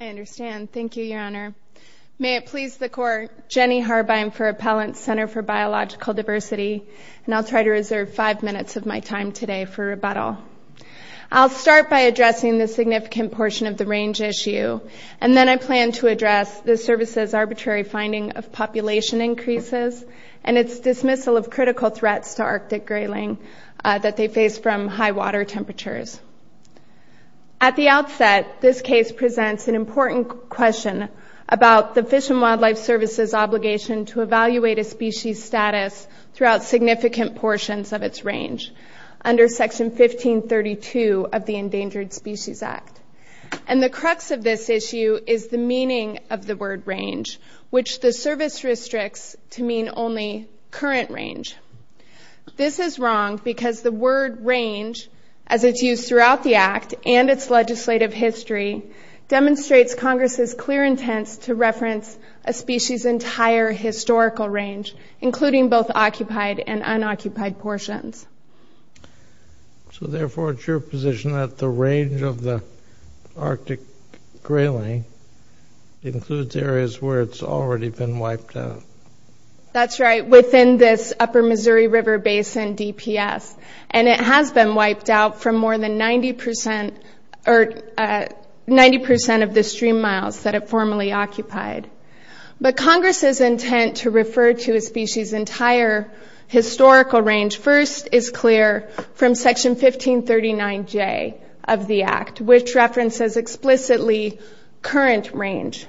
I understand. Thank you, Your Honor. May it please the Court, Jenny Harbine for Appellant's Center for Biological Diversity, and I'll try to reserve five minutes of my time today for rebuttal. I'll start by addressing the significant portion of the range issue, and then I plan to address the Service's arbitrary finding of population increases and its dismissal of critical threats to Arctic grayling that they face from high water temperatures. At the outset, this case presents an important question about the Fish and Wildlife Service's obligation to evaluate a species' status throughout significant portions of its range under Section 1532 of the Endangered Species Act. And the crux of this issue is the meaning of the word range, which the Service restricts to mean only current range. This is wrong because the word range, as it's used throughout the Act and its legislative history, demonstrates Congress's clear intents to reference a species' entire historical range, including both occupied and unoccupied portions. So, therefore, it's your position that the range of the Arctic grayling includes areas where it's already been wiped out? That's right, within this Upper Missouri River Basin DPS. And it has been wiped out from more than 90% of the stream miles that it formerly occupied. But Congress's intent to refer to a species' entire historical range first is clear from Section 1539J of the Act, which references explicitly current range,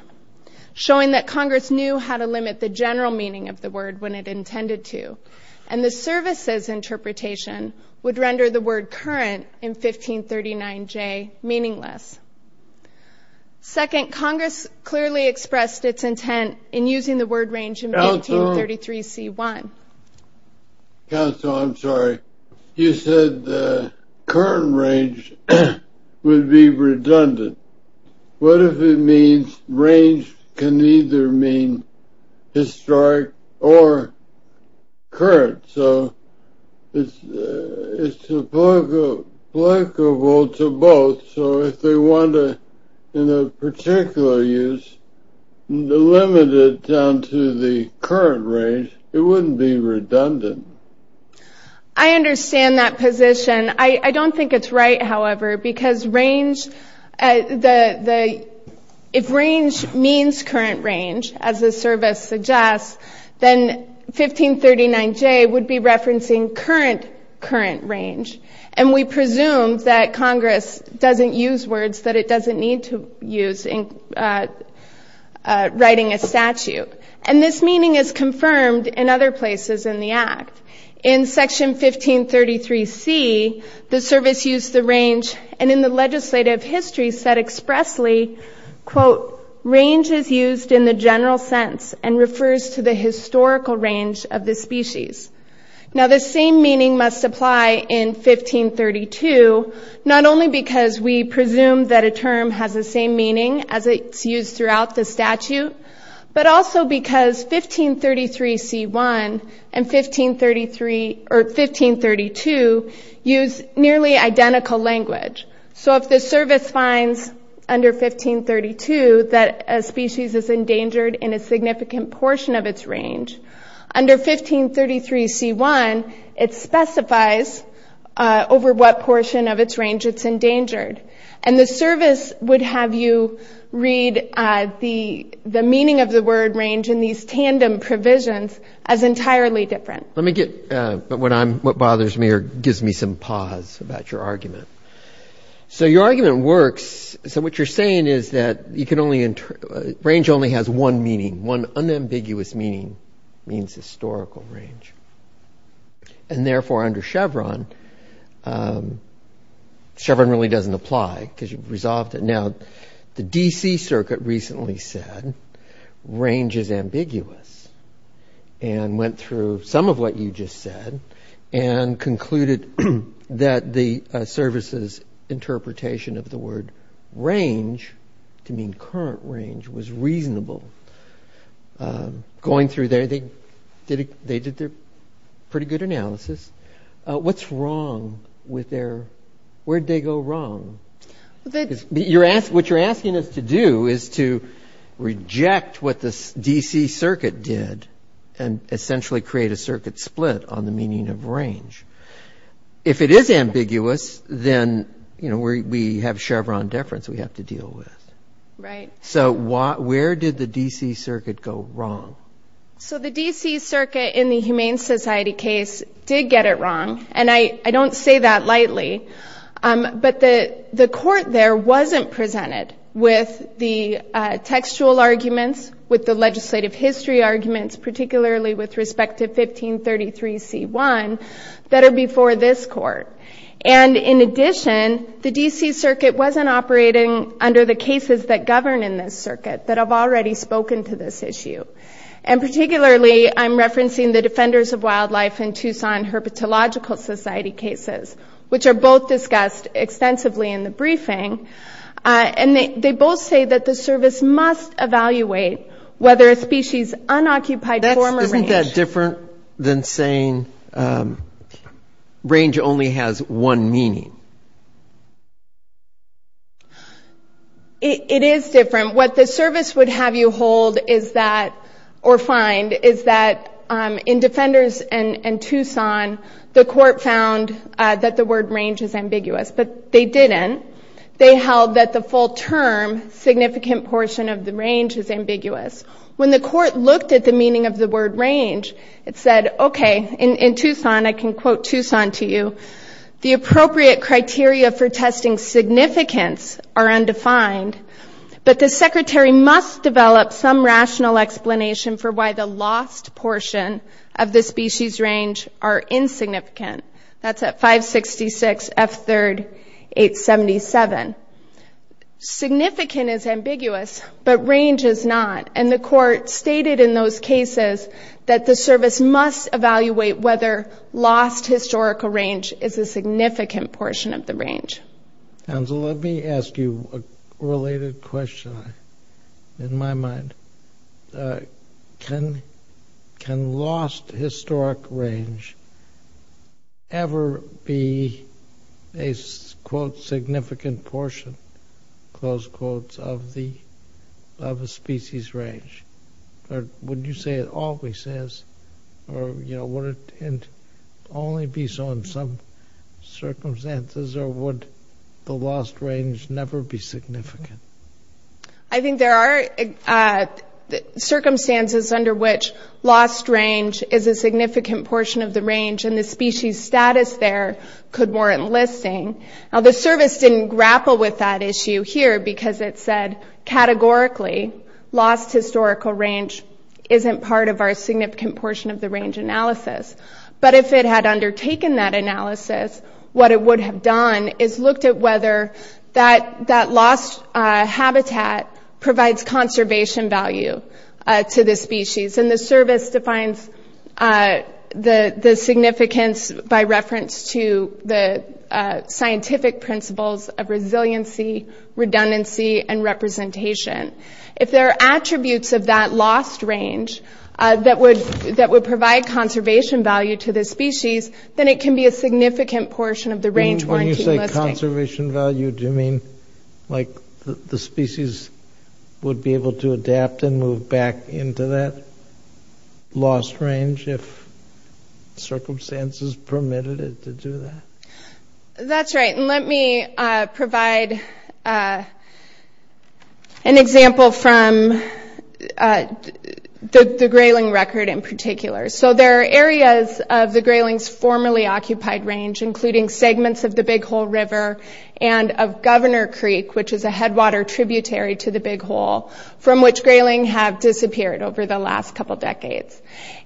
showing that Congress knew how to limit the general meaning of the word when it intended to, and the Service's interpretation would render the word current in 1539J meaningless. Second, Congress clearly expressed its intent in using the word range in 1533C1. Counsel, I'm sorry. You said the current range would be redundant. What if it means range can either mean historic or current? So it's applicable to both. So if they want to, in a particular use, limit it down to the current range, it wouldn't be redundant. I understand that position. I don't think it's right, however, because if range means current range, as the Service suggests, then 1539J would be referencing current current range. And we presume that Congress doesn't use words that it doesn't need to use in writing a statute. And this meaning is confirmed in other places in the Act. In Section 1533C, the Service used the range, and in the legislative history said expressly, quote, range is used in the general sense and refers to the historical range of the species. Now, the same meaning must apply in 1532, not only because we presume that a term has the same meaning as it's used throughout the statute, but also because 1533C1 and 1532 use nearly identical language. So if the Service finds under 1532 that a species is endangered in a significant portion of its range, under 1533C1, it specifies over what portion of its range it's endangered. And the Service would have you read the meaning of the word range in these tandem provisions as entirely different. Let me get what bothers me or gives me some pause about your argument. So your argument works. So what you're saying is that range only has one meaning. One unambiguous meaning means historical range. And therefore, under Chevron, Chevron really doesn't apply because you've resolved it. Now, the D.C. Circuit recently said range is ambiguous and went through some of what you just said and concluded that the Service's interpretation of the word range to mean current range was reasonable. Going through there, they did their pretty good analysis. What's wrong with their – where'd they go wrong? What you're asking us to do is to reject what the D.C. Circuit did and essentially create a circuit split on the meaning of range. If it is ambiguous, then, you know, we have Chevron deference we have to deal with. Right. So where did the D.C. Circuit go wrong? So the D.C. Circuit in the Humane Society case did get it wrong, and I don't say that lightly. But the court there wasn't presented with the textual arguments, with the legislative history arguments, particularly with respect to 1533c1, that are before this court. And in addition, the D.C. Circuit wasn't operating under the cases that govern in this circuit that have already spoken to this issue. And particularly, I'm referencing the Defenders of Wildlife and Tucson Herpetological Society cases, which are both discussed extensively in the briefing. And they both say that the Service must evaluate whether a species unoccupied form or range. Is that different than saying range only has one meaning? It is different. What the Service would have you hold is that, or find, is that in Defenders and Tucson, the court found that the word range is ambiguous. But they didn't. They held that the full term significant portion of the range is ambiguous. When the court looked at the meaning of the word range, it said, okay, in Tucson, I can quote Tucson to you, the appropriate criteria for testing significance are undefined, but the Secretary must develop some rational explanation for why the lost portion of the species range are insignificant. That's at 566F3-877. Significant is ambiguous, but range is not. And the court stated in those cases that the Service must evaluate whether lost historical range is a significant portion of the range. Counsel, let me ask you a related question in my mind. Can lost historic range ever be a, quote, significant portion, close quotes, of a species range? Or would you say it always is? Or, you know, would it only be so in some circumstances? Or would the lost range never be significant? I think there are circumstances under which lost range is a significant portion of the range, and the species status there could warrant listing. Now, the Service didn't grapple with that issue here because it said, categorically, lost historical range isn't part of our significant portion of the range analysis. But if it had undertaken that analysis, what it would have done is looked at whether that lost habitat provides conservation value to the species. And the Service defines the significance by reference to the scientific principles of resiliency, redundancy, and representation. If there are attributes of that lost range that would provide conservation value to the species, then it can be a significant portion of the range warranting listing. Conservation value, do you mean, like, the species would be able to adapt and move back into that lost range if circumstances permitted it to do that? That's right, and let me provide an example from the Grayling record in particular. So there are areas of the Grayling's formerly occupied range, including segments of the Big Hole River and of Governor Creek, which is a headwater tributary to the Big Hole, from which Grayling have disappeared over the last couple decades.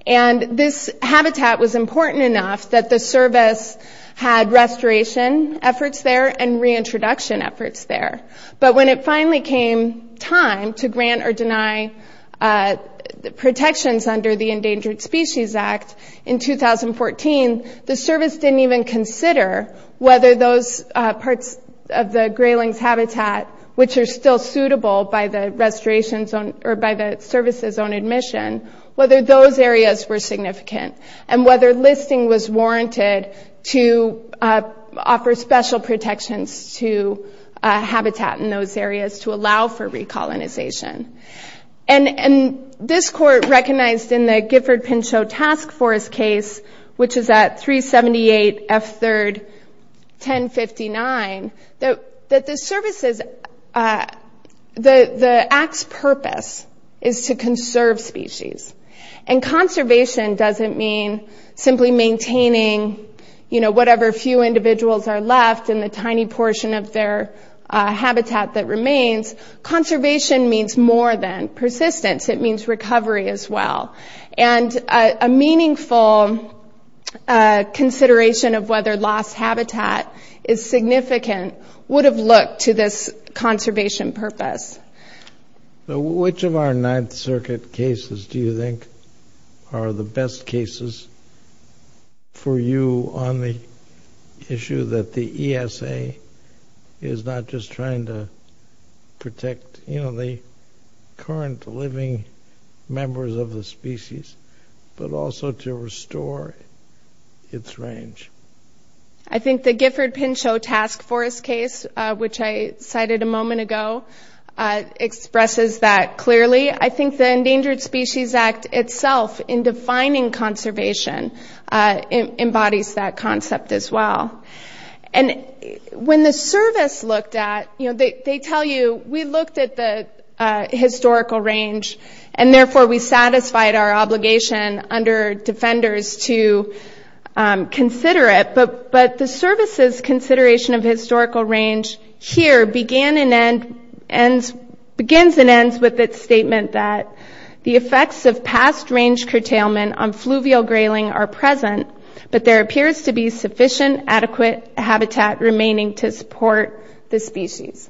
And this habitat was important enough that the Service had restoration efforts there and reintroduction efforts there. But when it finally came time to grant or deny protections under the Endangered Species Act in 2014, the Service didn't even consider whether those parts of the Grayling's habitat, which are still suitable by the restoration zone or by the Service's own admission, whether those areas were significant, and whether listing was warranted to offer special protections to habitat in those areas to allow for recolonization. And this Court recognized in the Gifford-Pinchot Task Force case, which is at 378 F3rd 1059, that the Act's purpose is to conserve species. And conservation doesn't mean simply maintaining whatever few individuals are left in the tiny portion of their habitat that remains. Conservation means more than persistence, it means recovery as well. And a meaningful consideration of whether lost habitat is significant would have looked to this conservation purpose. So which of our Ninth Circuit cases do you think are the best cases for you on the issue that the ESA is not just trying to protect, you know, the current living members of the species, but also to restore its range? I think the Gifford-Pinchot Task Force case, which I cited a moment ago, expresses that clearly. I think the Endangered Species Act itself, in defining conservation, embodies that concept as well. And when the service looked at, you know, they tell you, we looked at the historical range, and therefore we satisfied our obligation under defenders to consider it. But the service's consideration of historical range here begins and ends with its statement that, the effects of past range curtailment on fluvial grayling are present, but there appears to be sufficient adequate habitat remaining to support the species.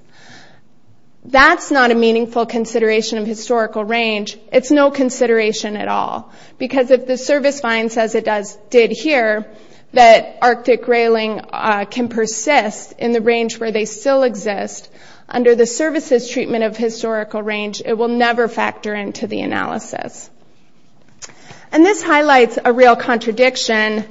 That's not a meaningful consideration of historical range, it's no consideration at all. Because if the service finds, as it did here, that Arctic grayling can persist in the range where they still exist, under the service's treatment of historical range, it will never factor into the analysis. And this highlights a real contradiction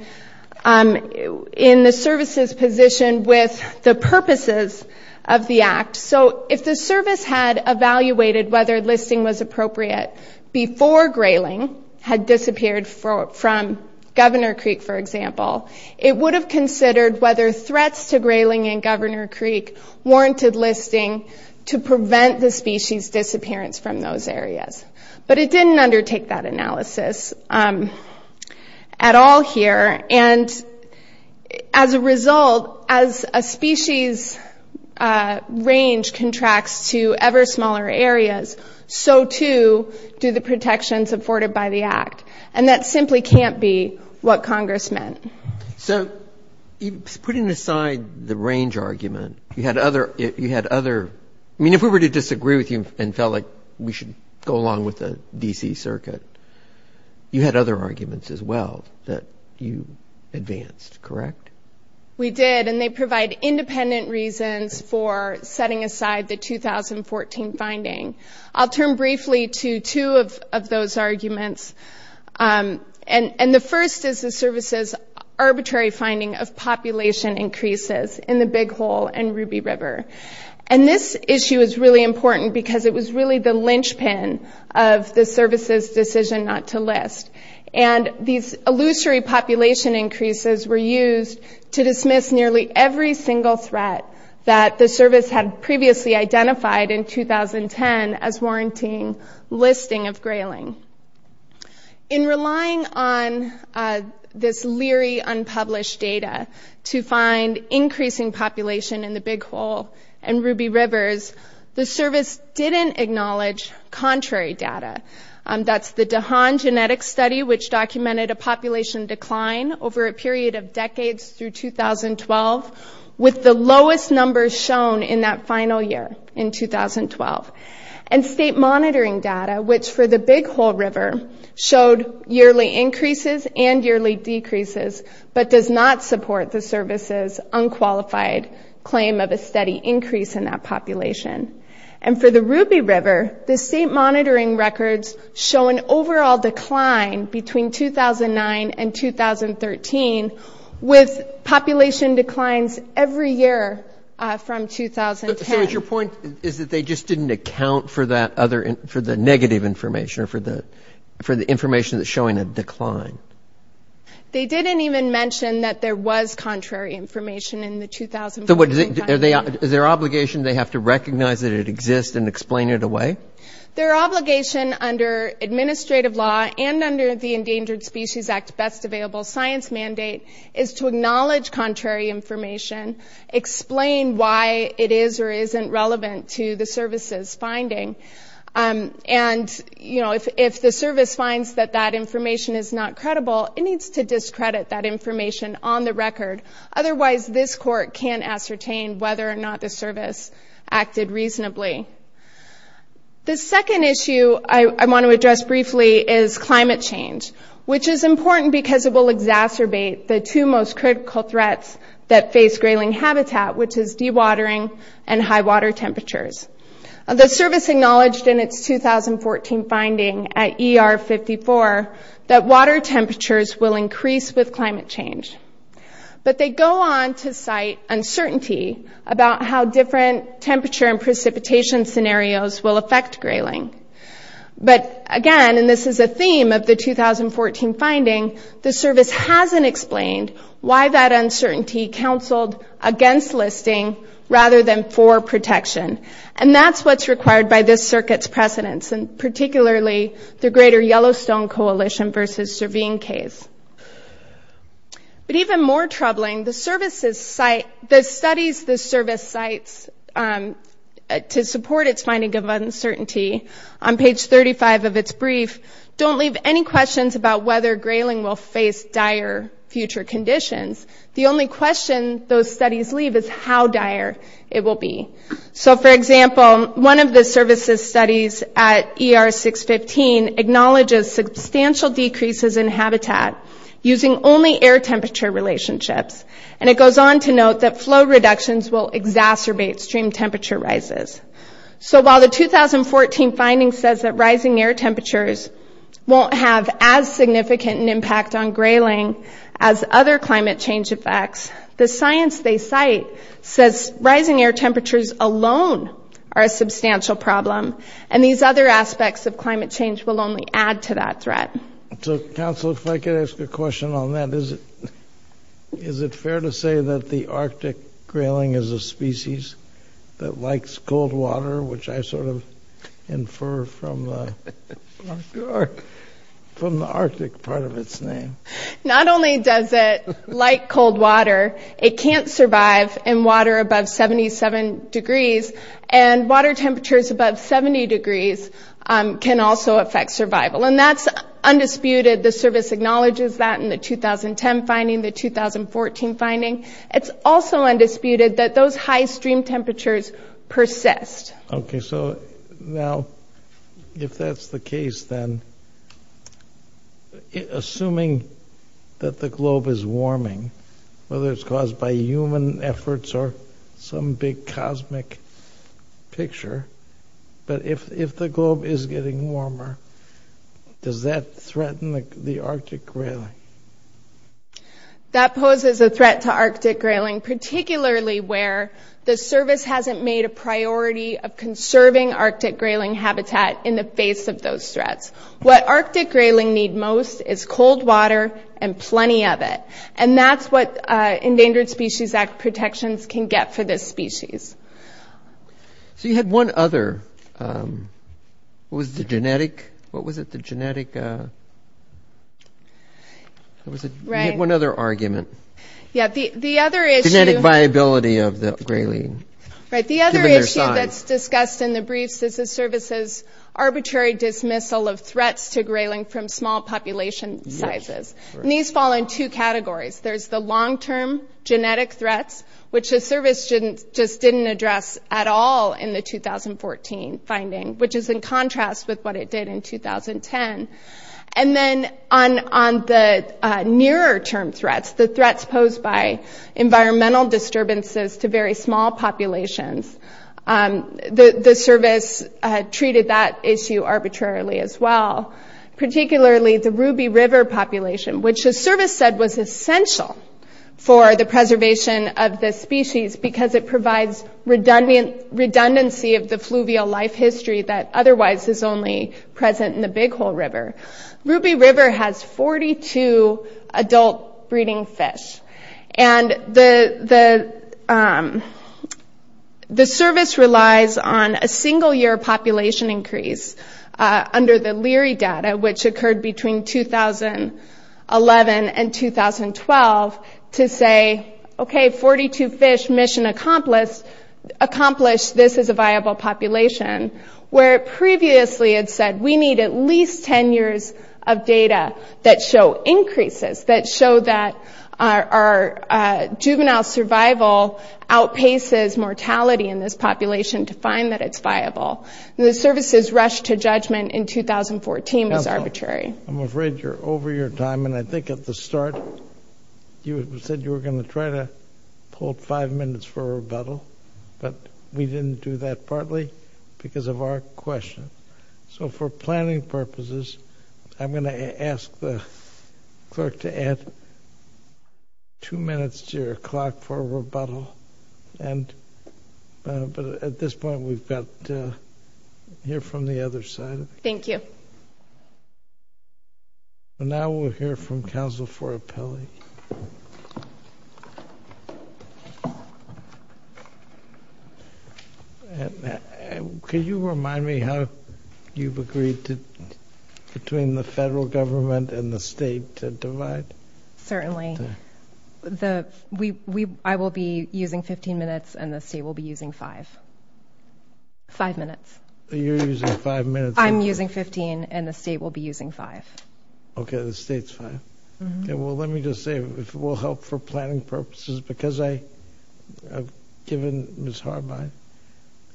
in the service's position with the purposes of the Act. So if the service had evaluated whether listing was appropriate before grayling had disappeared from Governor Creek, for example, it would have considered whether threats to grayling in Governor Creek warranted listing to prevent the species disappearance from those areas. But it didn't undertake that analysis at all here. And as a result, as a species range contracts to ever smaller areas, so too do the protections afforded by the Act. And that simply can't be what Congress meant. So putting aside the range argument, you had other – I mean, if we were to disagree with you and felt like we should go along with the D.C. Circuit, you had other arguments as well that you advanced, correct? We did, and they provide independent reasons for setting aside the 2014 finding. I'll turn briefly to two of those arguments. And the first is the service's arbitrary finding of population increases in the Big Hole and Ruby River. And this issue is really important because it was really the linchpin of the service's decision not to list. And these illusory population increases were used to dismiss nearly every single threat that the service had previously identified in 2010 as warranting listing of grayling. In relying on this leery unpublished data to find increasing population in the Big Hole and Ruby Rivers, the service didn't acknowledge contrary data. That's the DeHaan Genetic Study, which documented a population decline over a period of decades through 2012 with the lowest numbers shown in that final year in 2012. And state monitoring data, which for the Big Hole River showed yearly increases and yearly decreases, but does not support the service's unqualified claim of a steady increase in that population. And for the Ruby River, the state monitoring records show an overall decline between 2009 and 2013 with population declines every year from 2010. So your point is that they just didn't account for the negative information, or for the information that's showing a decline? They didn't even mention that there was contrary information in the 2014 final year. So is their obligation they have to recognize that it exists and explain it away? Their obligation under administrative law and under the Endangered Species Act Best Available Science mandate is to acknowledge contrary information, explain why it is or isn't relevant to the service's finding. And, you know, if the service finds that that information is not credible, it needs to discredit that information on the record. Otherwise, this court can't ascertain whether or not the service acted reasonably. The second issue I want to address briefly is climate change, which is important because it will exacerbate the two most critical threats that face grayling habitat, which is dewatering and high water temperatures. The service acknowledged in its 2014 finding at ER 54 that water temperatures will increase with climate change. But they go on to cite uncertainty about how different temperature and precipitation scenarios will affect grayling. But again, and this is a theme of the 2014 finding, the service hasn't explained why that uncertainty counseled against listing rather than for protection. And that's what's required by this circuit's precedents, and particularly the Greater Yellowstone Coalition versus Servine case. But even more troubling, the studies the service cites to support its finding of uncertainty on page 35 of its brief don't leave any questions about whether grayling will face dire future conditions. The only question those studies leave is how dire it will be. So for example, one of the services studies at ER 615 acknowledges substantial decreases in habitat using only air temperature relationships. And it goes on to note that flow reductions will exacerbate stream temperature rises. So while the 2014 finding says that rising air temperatures won't have as significant an impact on grayling as other climate change effects, the science they cite says rising air temperatures alone are a substantial problem, and these other aspects of climate change will only add to that threat. So counsel, if I could ask a question on that. Is it fair to say that the Arctic grayling is a species that likes cold water, which I sort of infer from the Arctic part of its name? Not only does it like cold water, it can't survive in water above 77 degrees, and water temperatures above 70 degrees can also affect survival. And that's undisputed. The service acknowledges that in the 2010 finding, the 2014 finding. It's also undisputed that those high stream temperatures persist. Okay, so now, if that's the case, then, assuming that the globe is warming, whether it's caused by human efforts or some big cosmic picture, but if the globe is getting warmer, does that threaten the Arctic grayling? That poses a threat to Arctic grayling, particularly where the service hasn't made a priority of conserving Arctic grayling habitat in the face of those threats. What Arctic grayling need most is cold water and plenty of it, and that's what Endangered Species Act protections can get for this species. So you had one other. What was it, the genetic? You had one other argument. Yeah, the other issue. Genetic viability of the grayling, given their size. Right, the other issue that's discussed in the briefs is the service's arbitrary dismissal of threats to grayling from small population sizes. And these fall in two categories. There's the long-term genetic threats, which the service just didn't address at all in the 2014 finding, which is in contrast with what it did in 2010. And then on the nearer-term threats, the threats posed by environmental disturbances to very small populations, the service treated that issue arbitrarily as well, particularly the Ruby River population, which the service said was essential for the preservation of this species because it provides redundancy of the fluvial life history that otherwise is only present in the Big Hole River. Ruby River has 42 adult breeding fish, and the service relies on a single-year population increase under the Leary data, which occurred between 2011 and 2012, to say, okay, 42 fish mission accomplished. This is a viable population, where it previously had said we need at least 10 years of data that show increases, that show that our juvenile survival outpaces mortality in this population to find that it's viable. The service's rush to judgment in 2014 was arbitrary. I'm afraid you're over your time, and I think at the start you said you were going to try to hold five minutes for rebuttal, but we didn't do that partly because of our question. So for planning purposes, I'm going to ask the clerk to add two minutes to your clock for rebuttal, but at this point we've got to hear from the other side. Thank you. Now we'll hear from counsel for appellate. Could you remind me how you've agreed between the federal government and the state to divide? Certainly. I will be using 15 minutes, and the state will be using five. Five minutes. You're using five minutes. I'm using 15, and the state will be using five. Okay, the state's fine. Well, let me just say, if it will help for planning purposes, because I've given Ms. Harbin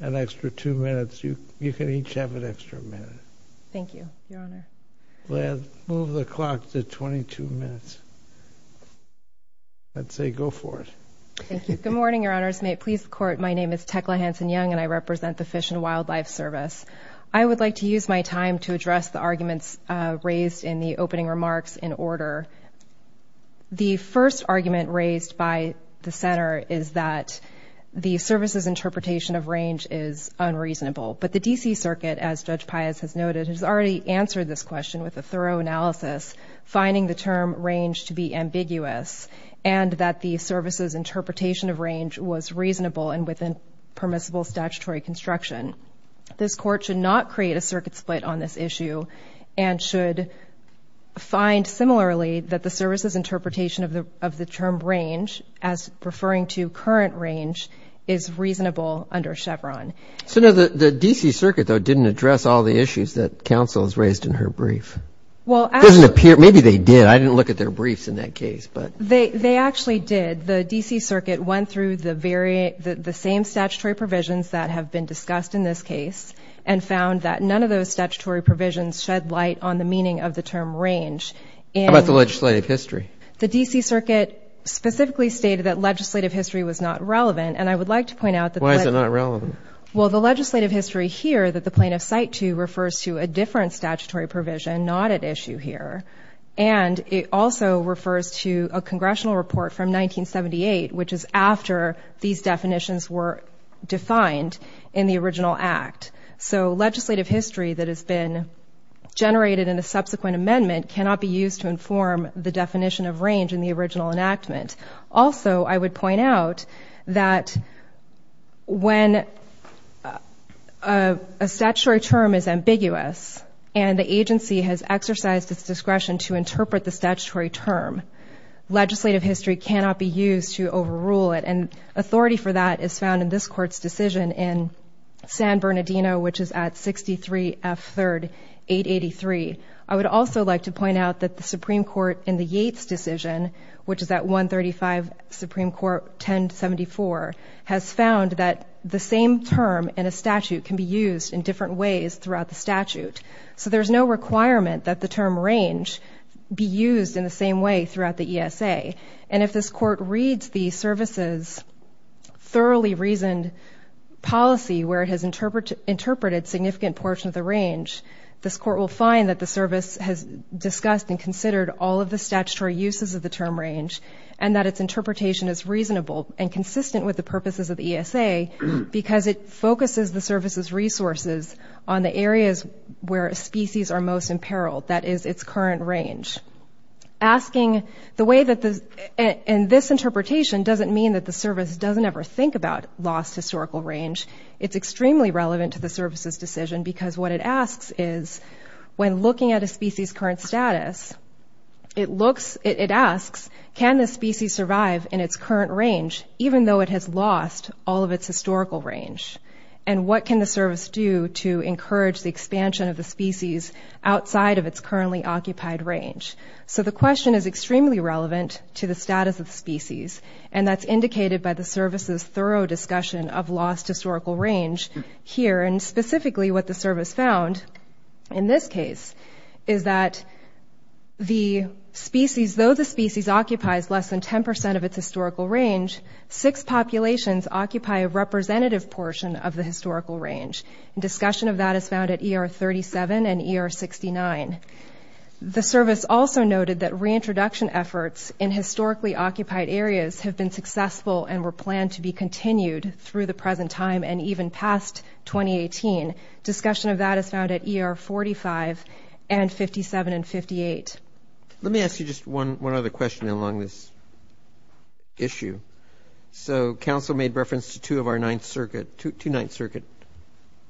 an extra two minutes, you can each have an extra minute. Thank you, Your Honor. Move the clock to 22 minutes. I'd say go for it. Thank you. Good morning, Your Honors. May it please the Court, my name is Tekla Hanson-Young, and I represent the Fish and Wildlife Service. I would like to use my time to address the arguments raised in the opening remarks in order. The first argument raised by the center is that the service's interpretation of range is unreasonable, but the D.C. Circuit, as Judge Pius has noted, has already answered this question with a thorough analysis, finding the term range to be ambiguous, and that the service's interpretation of range was reasonable and within permissible statutory construction. This Court should not create a circuit split on this issue and should find similarly that the service's interpretation of the term range, as referring to current range, is reasonable under Chevron. The D.C. Circuit, though, didn't address all the issues that counsel has raised in her brief. Maybe they did. I didn't look at their briefs in that case. They actually did. The D.C. Circuit went through the same statutory provisions that have been discussed in this case and found that none of those statutory provisions shed light on the meaning of the term range. How about the legislative history? The D.C. Circuit specifically stated that legislative history was not relevant, and I would like to point out that the legislative history here, that the plaintiff's cite to, refers to a different statutory provision not at issue here, and it also refers to a congressional report from 1978, which is after these definitions were defined in the original Act. So legislative history that has been generated in a subsequent amendment cannot be used to inform the definition of range in the original enactment. Also, I would point out that when a statutory term is ambiguous and the agency has exercised its discretion to interpret the statutory term, legislative history cannot be used to overrule it, and authority for that is found in this Court's decision in San Bernardino, which is at 63 F. 3rd, 883. I would also like to point out that the Supreme Court in the Yates decision, which is at 135 Supreme Court 1074, has found that the same term in a statute can be used in different ways throughout the statute. So there's no requirement that the term range be used in the same way throughout the ESA, and if this Court reads the services thoroughly reasoned policy where it has interpreted a significant portion of the range, this Court will find that the service has discussed and considered all of the statutory uses of the term range and that its interpretation is reasonable and consistent with the purposes of the ESA because it focuses the service's resources on the areas where species are most in peril, that is, its current range. Asking the way that this interpretation doesn't mean that the service doesn't ever think about lost historical range. It's extremely relevant to the service's decision because what it asks is, when looking at a species' current status, it asks, can this species survive in its current range even though it has lost all of its historical range? And what can the service do to encourage the expansion of the species outside of its currently occupied range? So the question is extremely relevant to the status of the species, and that's indicated by the service's thorough discussion of lost historical range here, and specifically what the service found in this case is that the species, though the species occupies less than 10% of its historical range, six populations occupy a representative portion of the historical range, and discussion of that is found at ER 37 and ER 69. The service also noted that reintroduction efforts in historically occupied areas have been successful and were planned to be continued through the present time and even past 2018. Discussion of that is found at ER 45 and 57 and 58. Let me ask you just one other question along this issue. So Council made reference to two of our Ninth Circuit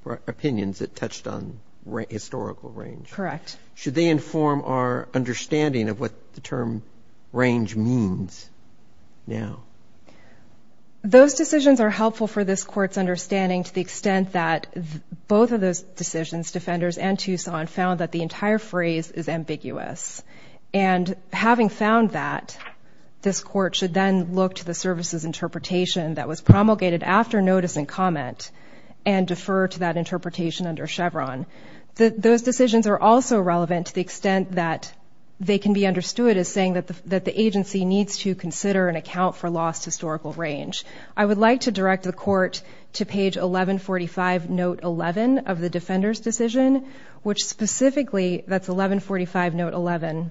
opinions that touched on historical range. Correct. Should they inform our understanding of what the term range means now? Those decisions are helpful for this Court's understanding to the extent that both of those decisions, defenders and Tucson, found that the entire phrase is ambiguous. And having found that, this Court should then look to the service's interpretation that was promulgated after notice and comment and defer to that interpretation under Chevron. Those decisions are also relevant to the extent that they can be understood as saying that the agency needs to consider and account for lost historical range. I would like to direct the Court to page 1145, note 11 of the defender's decision, which specifically, that's 1145, note 11,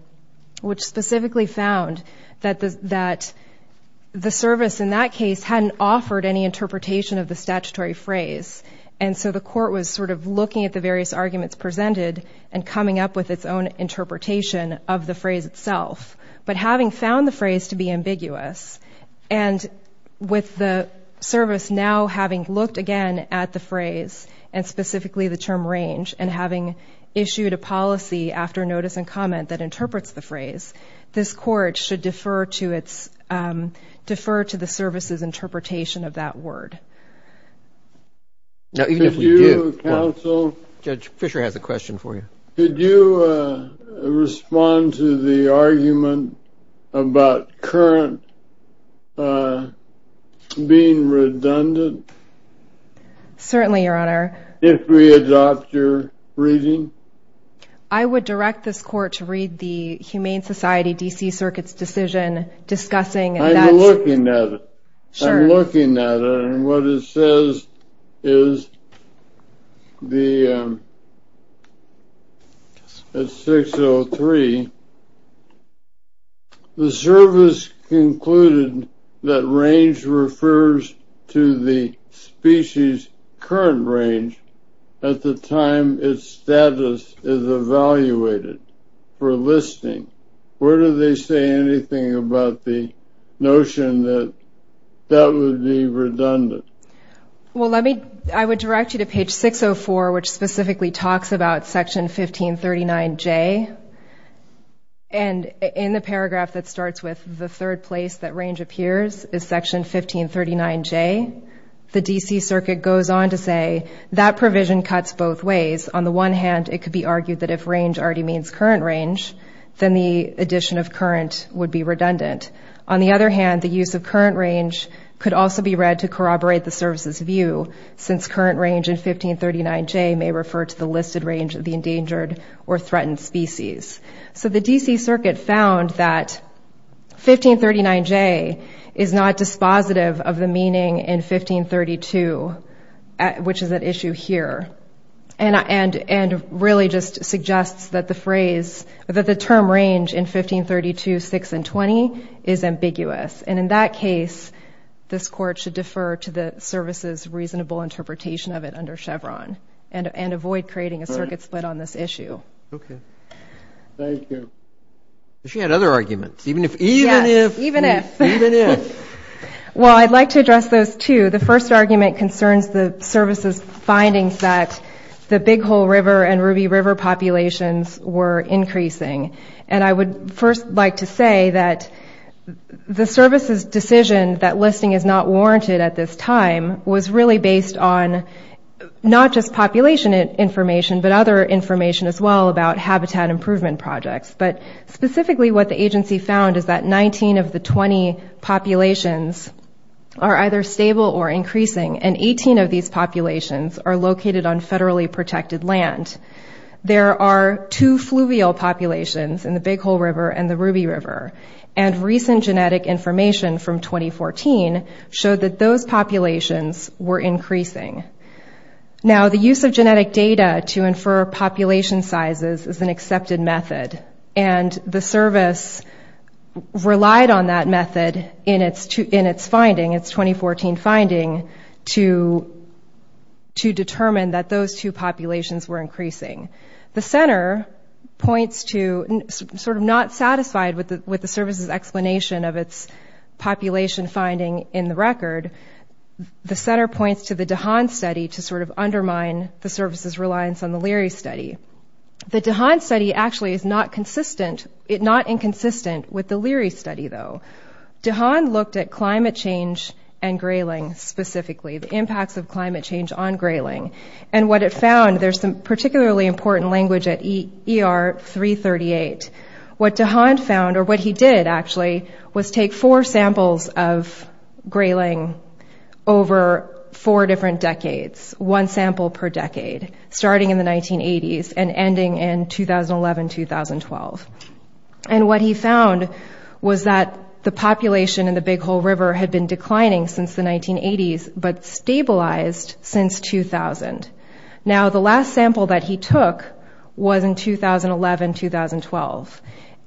which specifically found that the service in that case hadn't offered any interpretation of the statutory phrase. And so the Court was sort of looking at the various arguments presented and coming up with its own interpretation of the phrase itself. But having found the phrase to be ambiguous and with the service now having looked again at the phrase and specifically the term range and having issued a policy after notice and comment that interprets the phrase, this Court should defer to the service's interpretation of that word. Now, even if we do, Judge Fischer has a question for you. Could you respond to the argument about current being redundant? Certainly, Your Honor. If we adopt your reading? I would direct this Court to read the Humane Society D.C. Circuit's decision discussing that. I'm looking at it. And what it says is at 603, the service concluded that range refers to the species' current range at the time its status is evaluated for listing. Where do they say anything about the notion that that would be redundant? Well, I would direct you to page 604, which specifically talks about section 1539J. And in the paragraph that starts with the third place that range appears is section 1539J, the D.C. Circuit goes on to say that provision cuts both ways. On the one hand, it could be argued that if range already means current range, then the addition of current would be redundant. On the other hand, the use of current range could also be read to corroborate the service's view, since current range in 1539J may refer to the listed range of the endangered or threatened species. So the D.C. Circuit found that 1539J is not dispositive of the meaning in 1532, which is at issue here, and really just suggests that the phrase, that the term range in 1532.6 and 20 is ambiguous. And in that case, this Court should defer to the service's reasonable interpretation of it under Chevron and avoid creating a circuit split on this issue. Okay. Thank you. She had other arguments. Yes, even if. Even if. Even if. Well, I'd like to address those, too. The first argument concerns the service's findings that the Big Hole River and Ruby River populations were increasing. And I would first like to say that the service's decision that listing is not warranted at this time was really based on not just population information, but other information as well about habitat improvement projects. But specifically, what the agency found is that 19 of the 20 populations are either stable or increasing, and 18 of these populations are located on federally protected land. There are two fluvial populations in the Big Hole River and the Ruby River, and recent genetic information from 2014 showed that those populations were increasing. Now, the use of genetic data to infer population sizes is an accepted method, and the service relied on that method in its finding, its 2014 finding, to determine that those two populations were increasing. The center points to, sort of not satisfied with the service's explanation of its population finding in the record, the center points to the DeHaan study to sort of undermine the service's reliance on the Leary study. The DeHaan study actually is not inconsistent with the Leary study, though. DeHaan looked at climate change and grayling specifically, the impacts of climate change on grayling, and what it found, there's some particularly important language at ER 338. What DeHaan found, or what he did, actually, was take four samples of grayling over four different decades, one sample per decade, starting in the 1980s and ending in 2011-2012. And what he found was that the population in the Big Hole River had been declining since the 1980s, but stabilized since 2000. Now, the last sample that he took was in 2011-2012,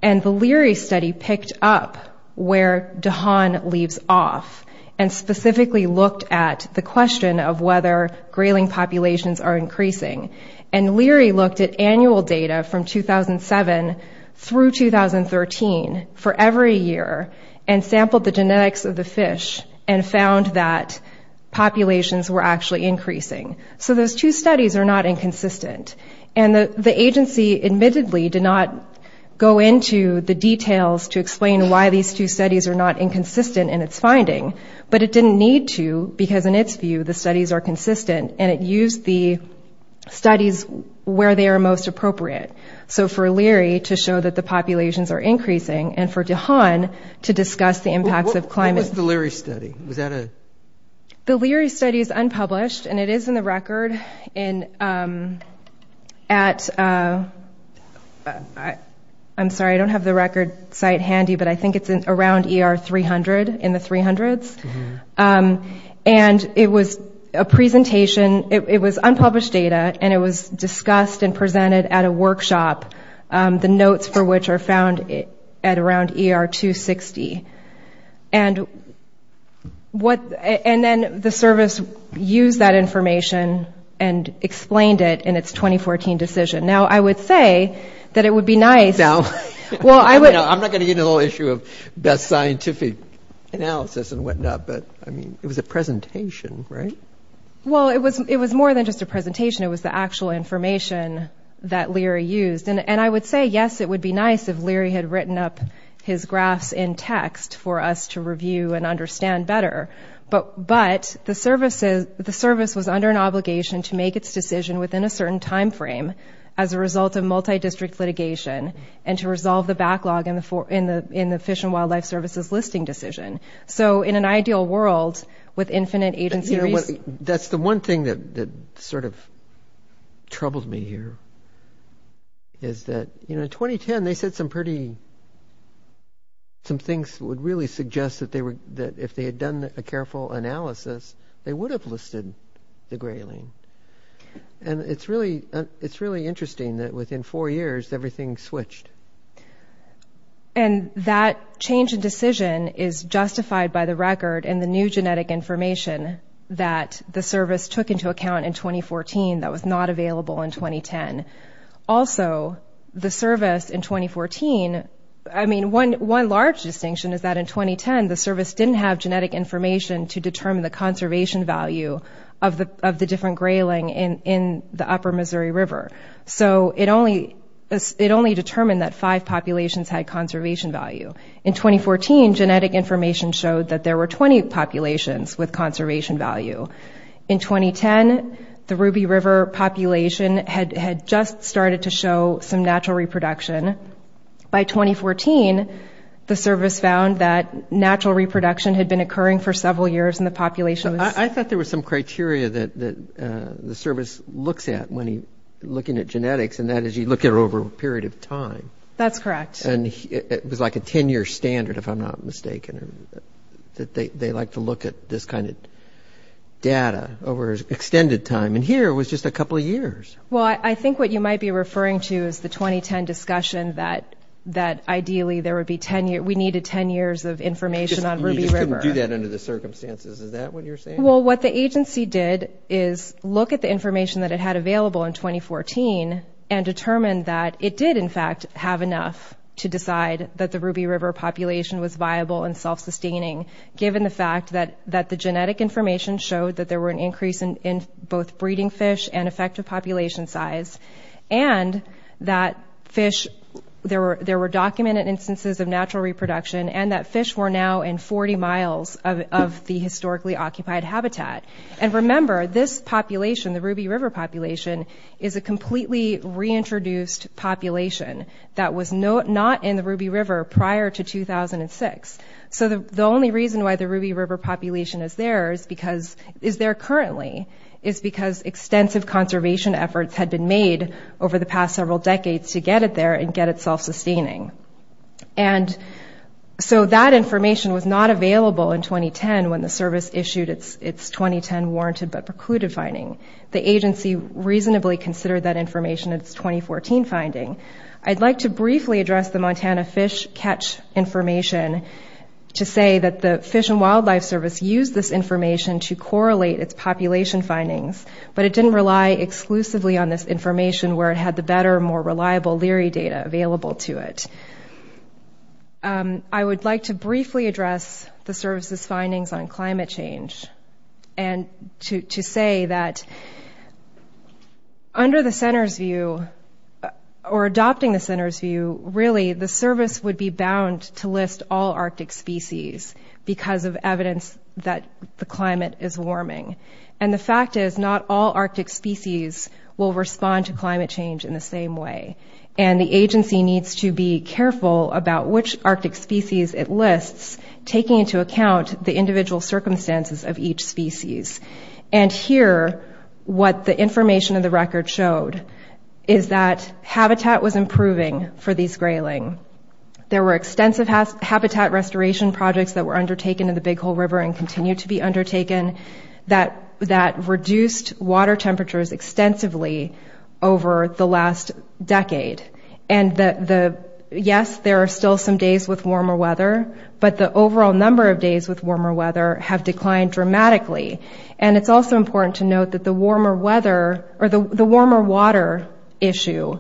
and the Leary study picked up where DeHaan leaves off, and specifically looked at the question of whether grayling populations are increasing. And Leary looked at annual data from 2007 through 2013 for every year, and sampled the genetics of the fish, and found that populations were actually increasing. So those two studies are not inconsistent. And the agency admittedly did not go into the details to explain why these two studies are not inconsistent in its finding, but it didn't need to, because in its view, the studies are consistent, and it used the studies where they are most appropriate. So for Leary to show that the populations are increasing, and for DeHaan to discuss the impacts of climate... What was the Leary study? Was that a... The Leary study is unpublished, and it is in the record at...I'm sorry, I don't have the record site handy, but I think it's around ER 300, in the 300s. And it was a presentation, it was unpublished data, and it was discussed and presented at a workshop, the notes for which are found at around ER 260. And then the service used that information and explained it in its 2014 decision. Now, I would say that it would be nice... I mean, it was a presentation, right? Well, it was more than just a presentation. It was the actual information that Leary used. And I would say, yes, it would be nice if Leary had written up his graphs in text for us to review and understand better. But the service was under an obligation to make its decision within a certain time frame as a result of multi-district litigation, and to resolve the backlog in the Fish and Wildlife Service's listing decision. So in an ideal world, with infinite agency... That's the one thing that sort of troubled me here, is that, you know, in 2010, they said some pretty... Some things would really suggest that if they had done a careful analysis, they would have listed the grayling. And it's really interesting that within four years, everything switched. And that change in decision is justified by the record and the new genetic information that the service took into account in 2014 that was not available in 2010. Also, the service in 2014... I mean, one large distinction is that in 2010, the service didn't have genetic information to determine the conservation value of the different grayling in the Upper Missouri River. So it only determined that five populations had conservation value. In 2014, genetic information showed that there were 20 populations with conservation value. In 2010, the Ruby River population had just started to show some natural reproduction. By 2014, the service found that natural reproduction had been occurring for several years in the population... I thought there was some criteria that the service looks at when looking at genetics, and that is you look at it over a period of time. That's correct. And it was like a 10-year standard, if I'm not mistaken, that they like to look at this kind of data over extended time. And here, it was just a couple of years. Well, I think what you might be referring to is the 2010 discussion that ideally there would be 10 years. We needed 10 years of information on Ruby River. You just couldn't do that under the circumstances. Is that what you're saying? Well, what the agency did is look at the information that it had available in 2014 and determined that it did, in fact, have enough to decide that the Ruby River population was viable and self-sustaining, given the fact that the genetic information showed that there were an increase in both breeding fish and effective population size, and that there were documented instances of natural reproduction, and that fish were now in 40 miles of the historically occupied habitat. And remember, this population, the Ruby River population, is a completely reintroduced population that was not in the Ruby River prior to 2006. So the only reason why the Ruby River population is there currently is because extensive conservation efforts had been made over the past several decades to get it there and get it self-sustaining. And so that information was not available in 2010 when the service issued its 2010 warranted but precluded finding. The agency reasonably considered that information in its 2014 finding. I'd like to briefly address the Montana Fish Catch information to say that the Fish and Wildlife Service used this information to correlate its population findings, but it didn't rely exclusively on this information where it had the better, more reliable Leary data available to it. I would like to briefly address the service's findings on climate change and to say that under the Center's view, or adopting the Center's view, really the service would be bound to list all Arctic species because of evidence that the climate is warming. And the fact is not all Arctic species will respond to climate change in the same way. And the agency needs to be careful about which Arctic species it lists, taking into account the individual circumstances of each species. And here, what the information in the record showed is that habitat was improving for these grayling. There were extensive habitat restoration projects that were undertaken in the Big Hole River and continue to be undertaken that reduced water temperatures extensively over the last decade. And yes, there are still some days with warmer weather, but the overall number of days with warmer weather have declined dramatically. And it's also important to note that the warmer weather, or the warmer water issue,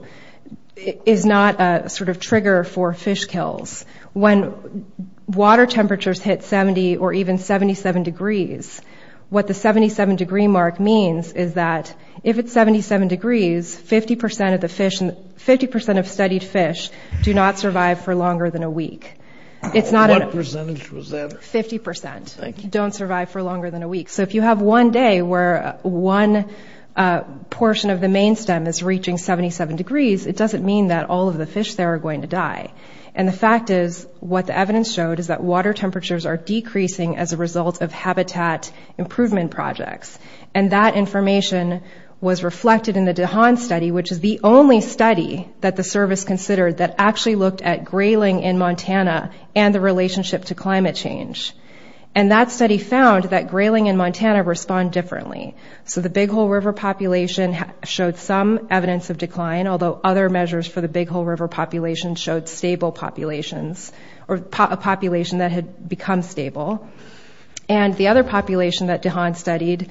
is not a sort of trigger for fish kills. When water temperatures hit 70 or even 77 degrees, what the 77 degree mark means is that if it's 77 degrees, 50% of studied fish do not survive for longer than a week. What percentage was that? 50%. Thank you. Don't survive for longer than a week. So if you have one day where one portion of the main stem is reaching 77 degrees, it doesn't mean that all of the fish there are going to die. And the fact is what the evidence showed is that water temperatures are decreasing as a result of habitat improvement projects. And that information was reflected in the DeHaan study, which is the only study that the service considered that actually looked at grayling in Montana and the relationship to climate change. And that study found that grayling in Montana respond differently. So the Big Hole River population showed some evidence of decline, although other measures for the Big Hole River population showed stable populations, or a population that had become stable. And the other population that DeHaan studied,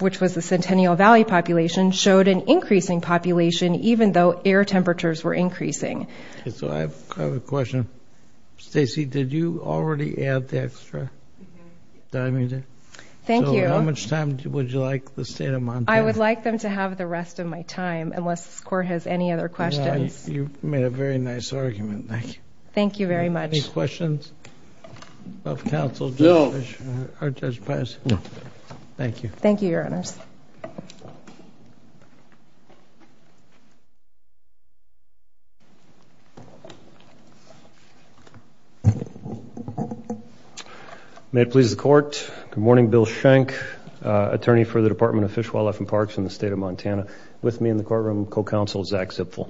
which was the Centennial Valley population, showed an increasing population even though air temperatures were increasing. So I have a question. Stacey, did you already add the extra? Mm-hmm. Did I mean to? Thank you. So how much time would you like the state of Montana? I would like them to have the rest of my time, unless this Court has any other questions. You made a very nice argument. Thank you. Thank you very much. Any questions of counsel? No. Or Judge Paz? No. Thank you. Thank you, Your Honors. Thank you. May it please the Court, good morning, Bill Schenck, attorney for the Department of Fish, Wildlife, and Parks in the state of Montana, with me in the courtroom, co-counsel Zach Zipfel.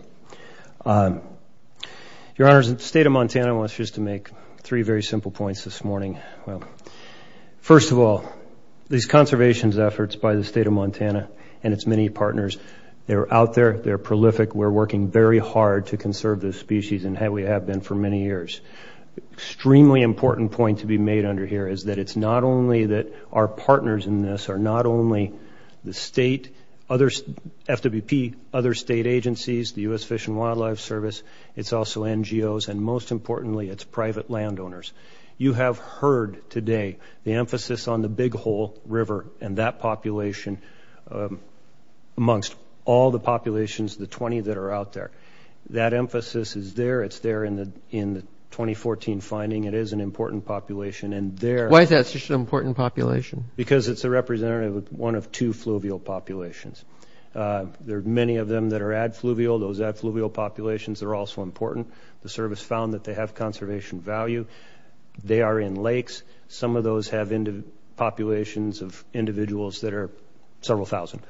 Your Honors, the state of Montana wants us to make three very simple points this morning. First of all, these conservations efforts by the state of Montana and its many partners, they're out there, they're prolific. We're working very hard to conserve this species, and we have been for many years. Extremely important point to be made under here is that it's not only that our partners in this are not only the state, FWP, other state agencies, the U.S. Fish and Wildlife Service, it's also NGOs, and most importantly, it's private landowners. You have heard today the emphasis on the Big Hole River and that population amongst all the populations, the 20 that are out there. That emphasis is there. It's there in the 2014 finding. It is an important population. Why is that such an important population? Because it's a representative of one of two fluvial populations. There are many of them that are adfluvial. Those adfluvial populations are also important. The service found that they have conservation value. They are in lakes. Some of those have populations of individuals that are several thousand,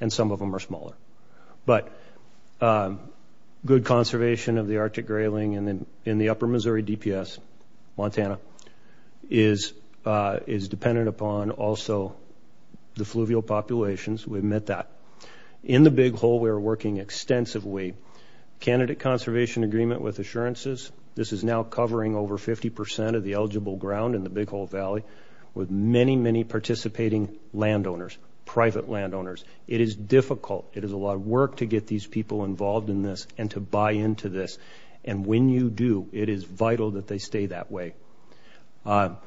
and some of them are smaller. But good conservation of the Arctic grayling in the upper Missouri DPS, Montana, is dependent upon also the fluvial populations. We've met that. In the Big Hole, we are working extensively. Candidate Conservation Agreement with Assurances, this is now covering over 50% of the eligible ground in the Big Hole Valley with many, many participating landowners, private landowners. It is difficult. It is a lot of work to get these people involved in this and to buy into this. And when you do, it is vital that they stay that way. And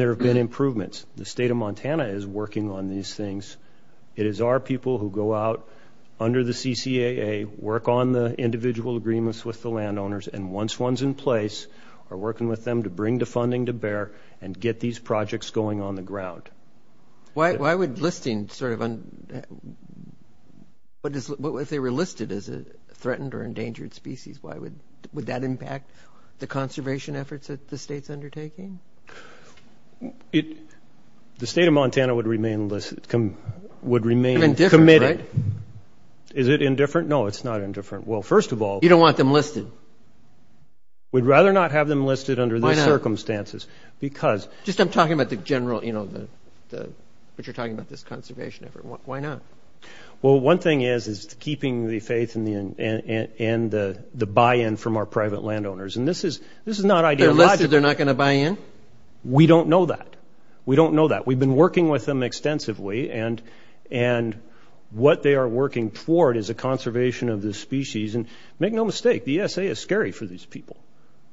there have been improvements. The state of Montana is working on these things. It is our people who go out under the CCAA, work on the individual agreements with the landowners, and once one's in place, are working with them to bring the funding to bear and get these projects going on the ground. Why would listing sort of – if they were listed as a threatened or endangered species, why would that impact the conservation efforts that the state's undertaking? The state of Montana would remain committed. Indifferent, right? Is it indifferent? No, it's not indifferent. Well, first of all – You don't want them listed. We'd rather not have them listed under these circumstances because – Just I'm talking about the general, you know, what you're talking about, this conservation effort. Why not? Well, one thing is keeping the faith and the buy-in from our private landowners. And this is not ideological. Are you glad that they're not going to buy in? We don't know that. We don't know that. We've been working with them extensively, and what they are working toward is a conservation of this species. And make no mistake, the ESA is scary for these people.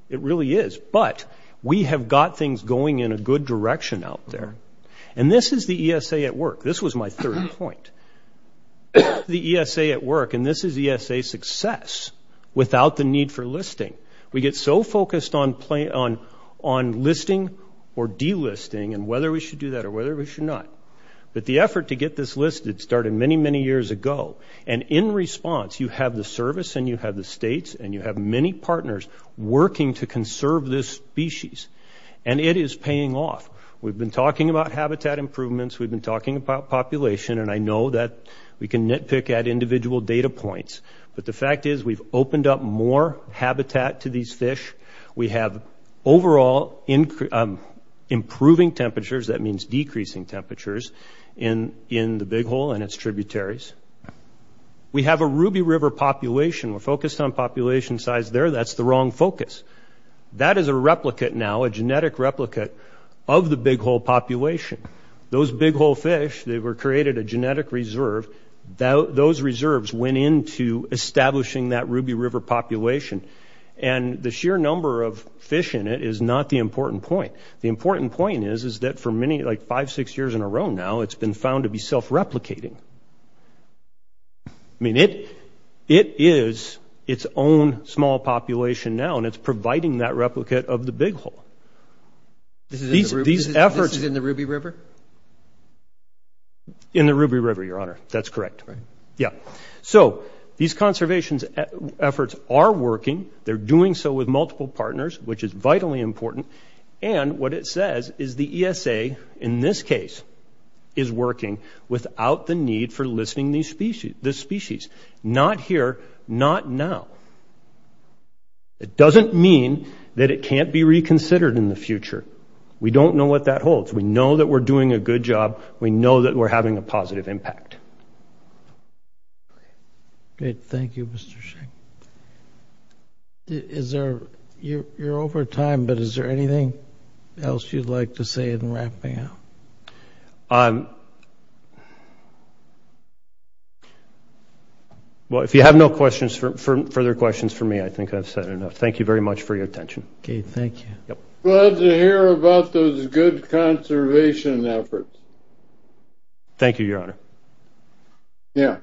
It really is. But we have got things going in a good direction out there. And this is the ESA at work. This was my third point. The ESA at work, and this is ESA success without the need for listing. We get so focused on listing or delisting and whether we should do that or whether we should not. But the effort to get this listed started many, many years ago. And in response, you have the service and you have the states and you have many partners working to conserve this species. And it is paying off. We've been talking about habitat improvements. We've been talking about population. And I know that we can nitpick at individual data points. But the fact is we've opened up more habitat to these fish. We have overall improving temperatures. That means decreasing temperatures in the Big Hole and its tributaries. We have a Ruby River population. We're focused on population size there. That's the wrong focus. That is a replica now, a genetic replica of the Big Hole population. Those Big Hole fish, they were created a genetic reserve. Those reserves went into establishing that Ruby River population. And the sheer number of fish in it is not the important point. The important point is, is that for many, like five, six years in a row now, it's been found to be self-replicating. I mean, it is its own small population now, and it's providing that replicate of the Big Hole. These efforts – This is in the Ruby River? In the Ruby River, Your Honor. That's correct. Yeah. So these conservation efforts are working. They're doing so with multiple partners, which is vitally important. And what it says is the ESA, in this case, is working without the need for listing this species. Not here. Not now. It doesn't mean that it can't be reconsidered in the future. We don't know what that holds. We know that we're doing a good job. We know that we're having a positive impact. Great. Thank you, Mr. Shea. Is there – you're over time, but is there anything else you'd like to say in wrapping up? Well, if you have no questions – further questions for me, I think I've said enough. Thank you very much for your attention. Okay. Thank you. Glad to hear about those good conservation efforts. Thank you, Your Honor. Yeah.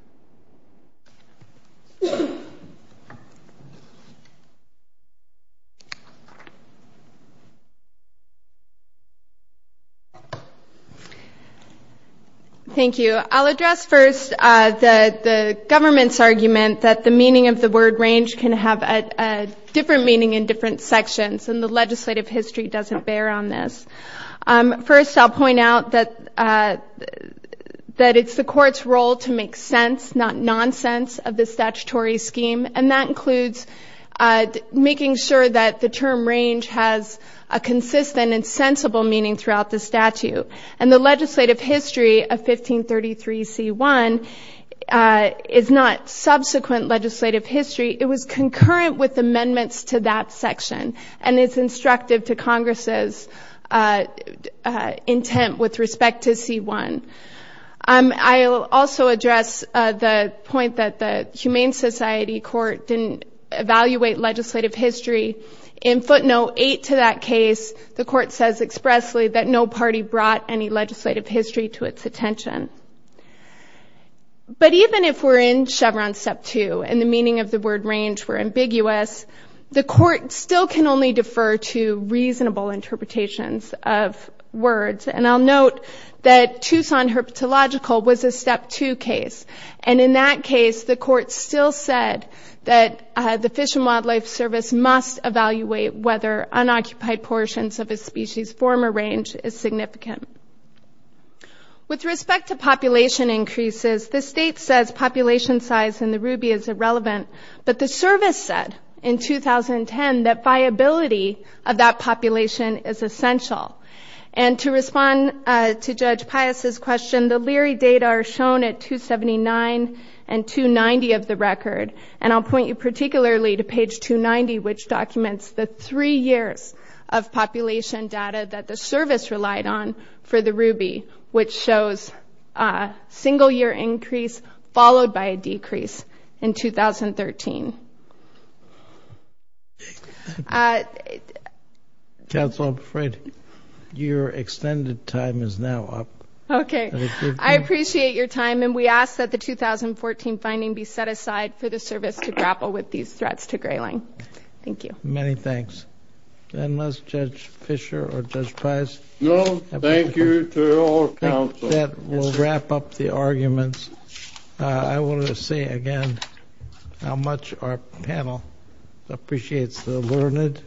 Thank you. I'll address first the government's argument that the meaning of the word and the legislative history doesn't bear on this. First, I'll point out that it's the court's role to make sense, not nonsense, of the statutory scheme, and that includes making sure that the term range has a consistent and sensible meaning throughout the statute. And the legislative history of 1533c1 is not subsequent legislative history. It was concurrent with amendments to that section, and it's instructive to Congress's intent with respect to c1. I'll also address the point that the Humane Society Court didn't evaluate legislative history. In footnote 8 to that case, the court says expressly that no party brought any legislative history to its attention. But even if we're in Chevron Step 2 and the meaning of the word range were ambiguous, the court still can only defer to reasonable interpretations of words. And I'll note that Tucson Herpetological was a Step 2 case, and in that case the court still said that the Fish and Wildlife Service must evaluate whether unoccupied portions of a species form or range is significant. With respect to population increases, the state says population size in the ruby is irrelevant, but the service said in 2010 that viability of that population is essential. And to respond to Judge Pius' question, the Leary data are shown at 279 and 290 of the record, and I'll point you particularly to page 290, which documents the three years of population data that the service relied on for the ruby, which shows a single-year increase followed by a decrease in 2013. Counsel, I'm afraid your extended time is now up. Okay. I appreciate your time, and we ask that the 2014 finding be set aside for the service to grapple with these threats to grayling. Thank you. Many thanks. Then let's judge Fisher or Judge Pius. No, thank you to your counsel. With that, we'll wrap up the arguments. I want to say again how much our panel appreciates the learned,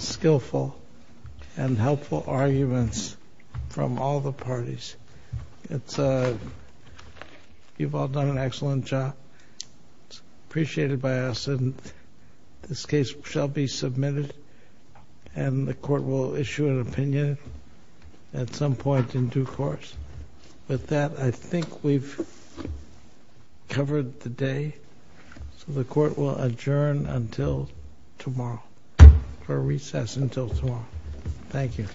skillful, and helpful arguments from all the parties. You've all done an excellent job. It's appreciated by us, and this case shall be submitted, and the court will issue an opinion at some point in due course. With that, I think we've covered the day, so the court will adjourn until tomorrow, or recess until tomorrow. Thank you.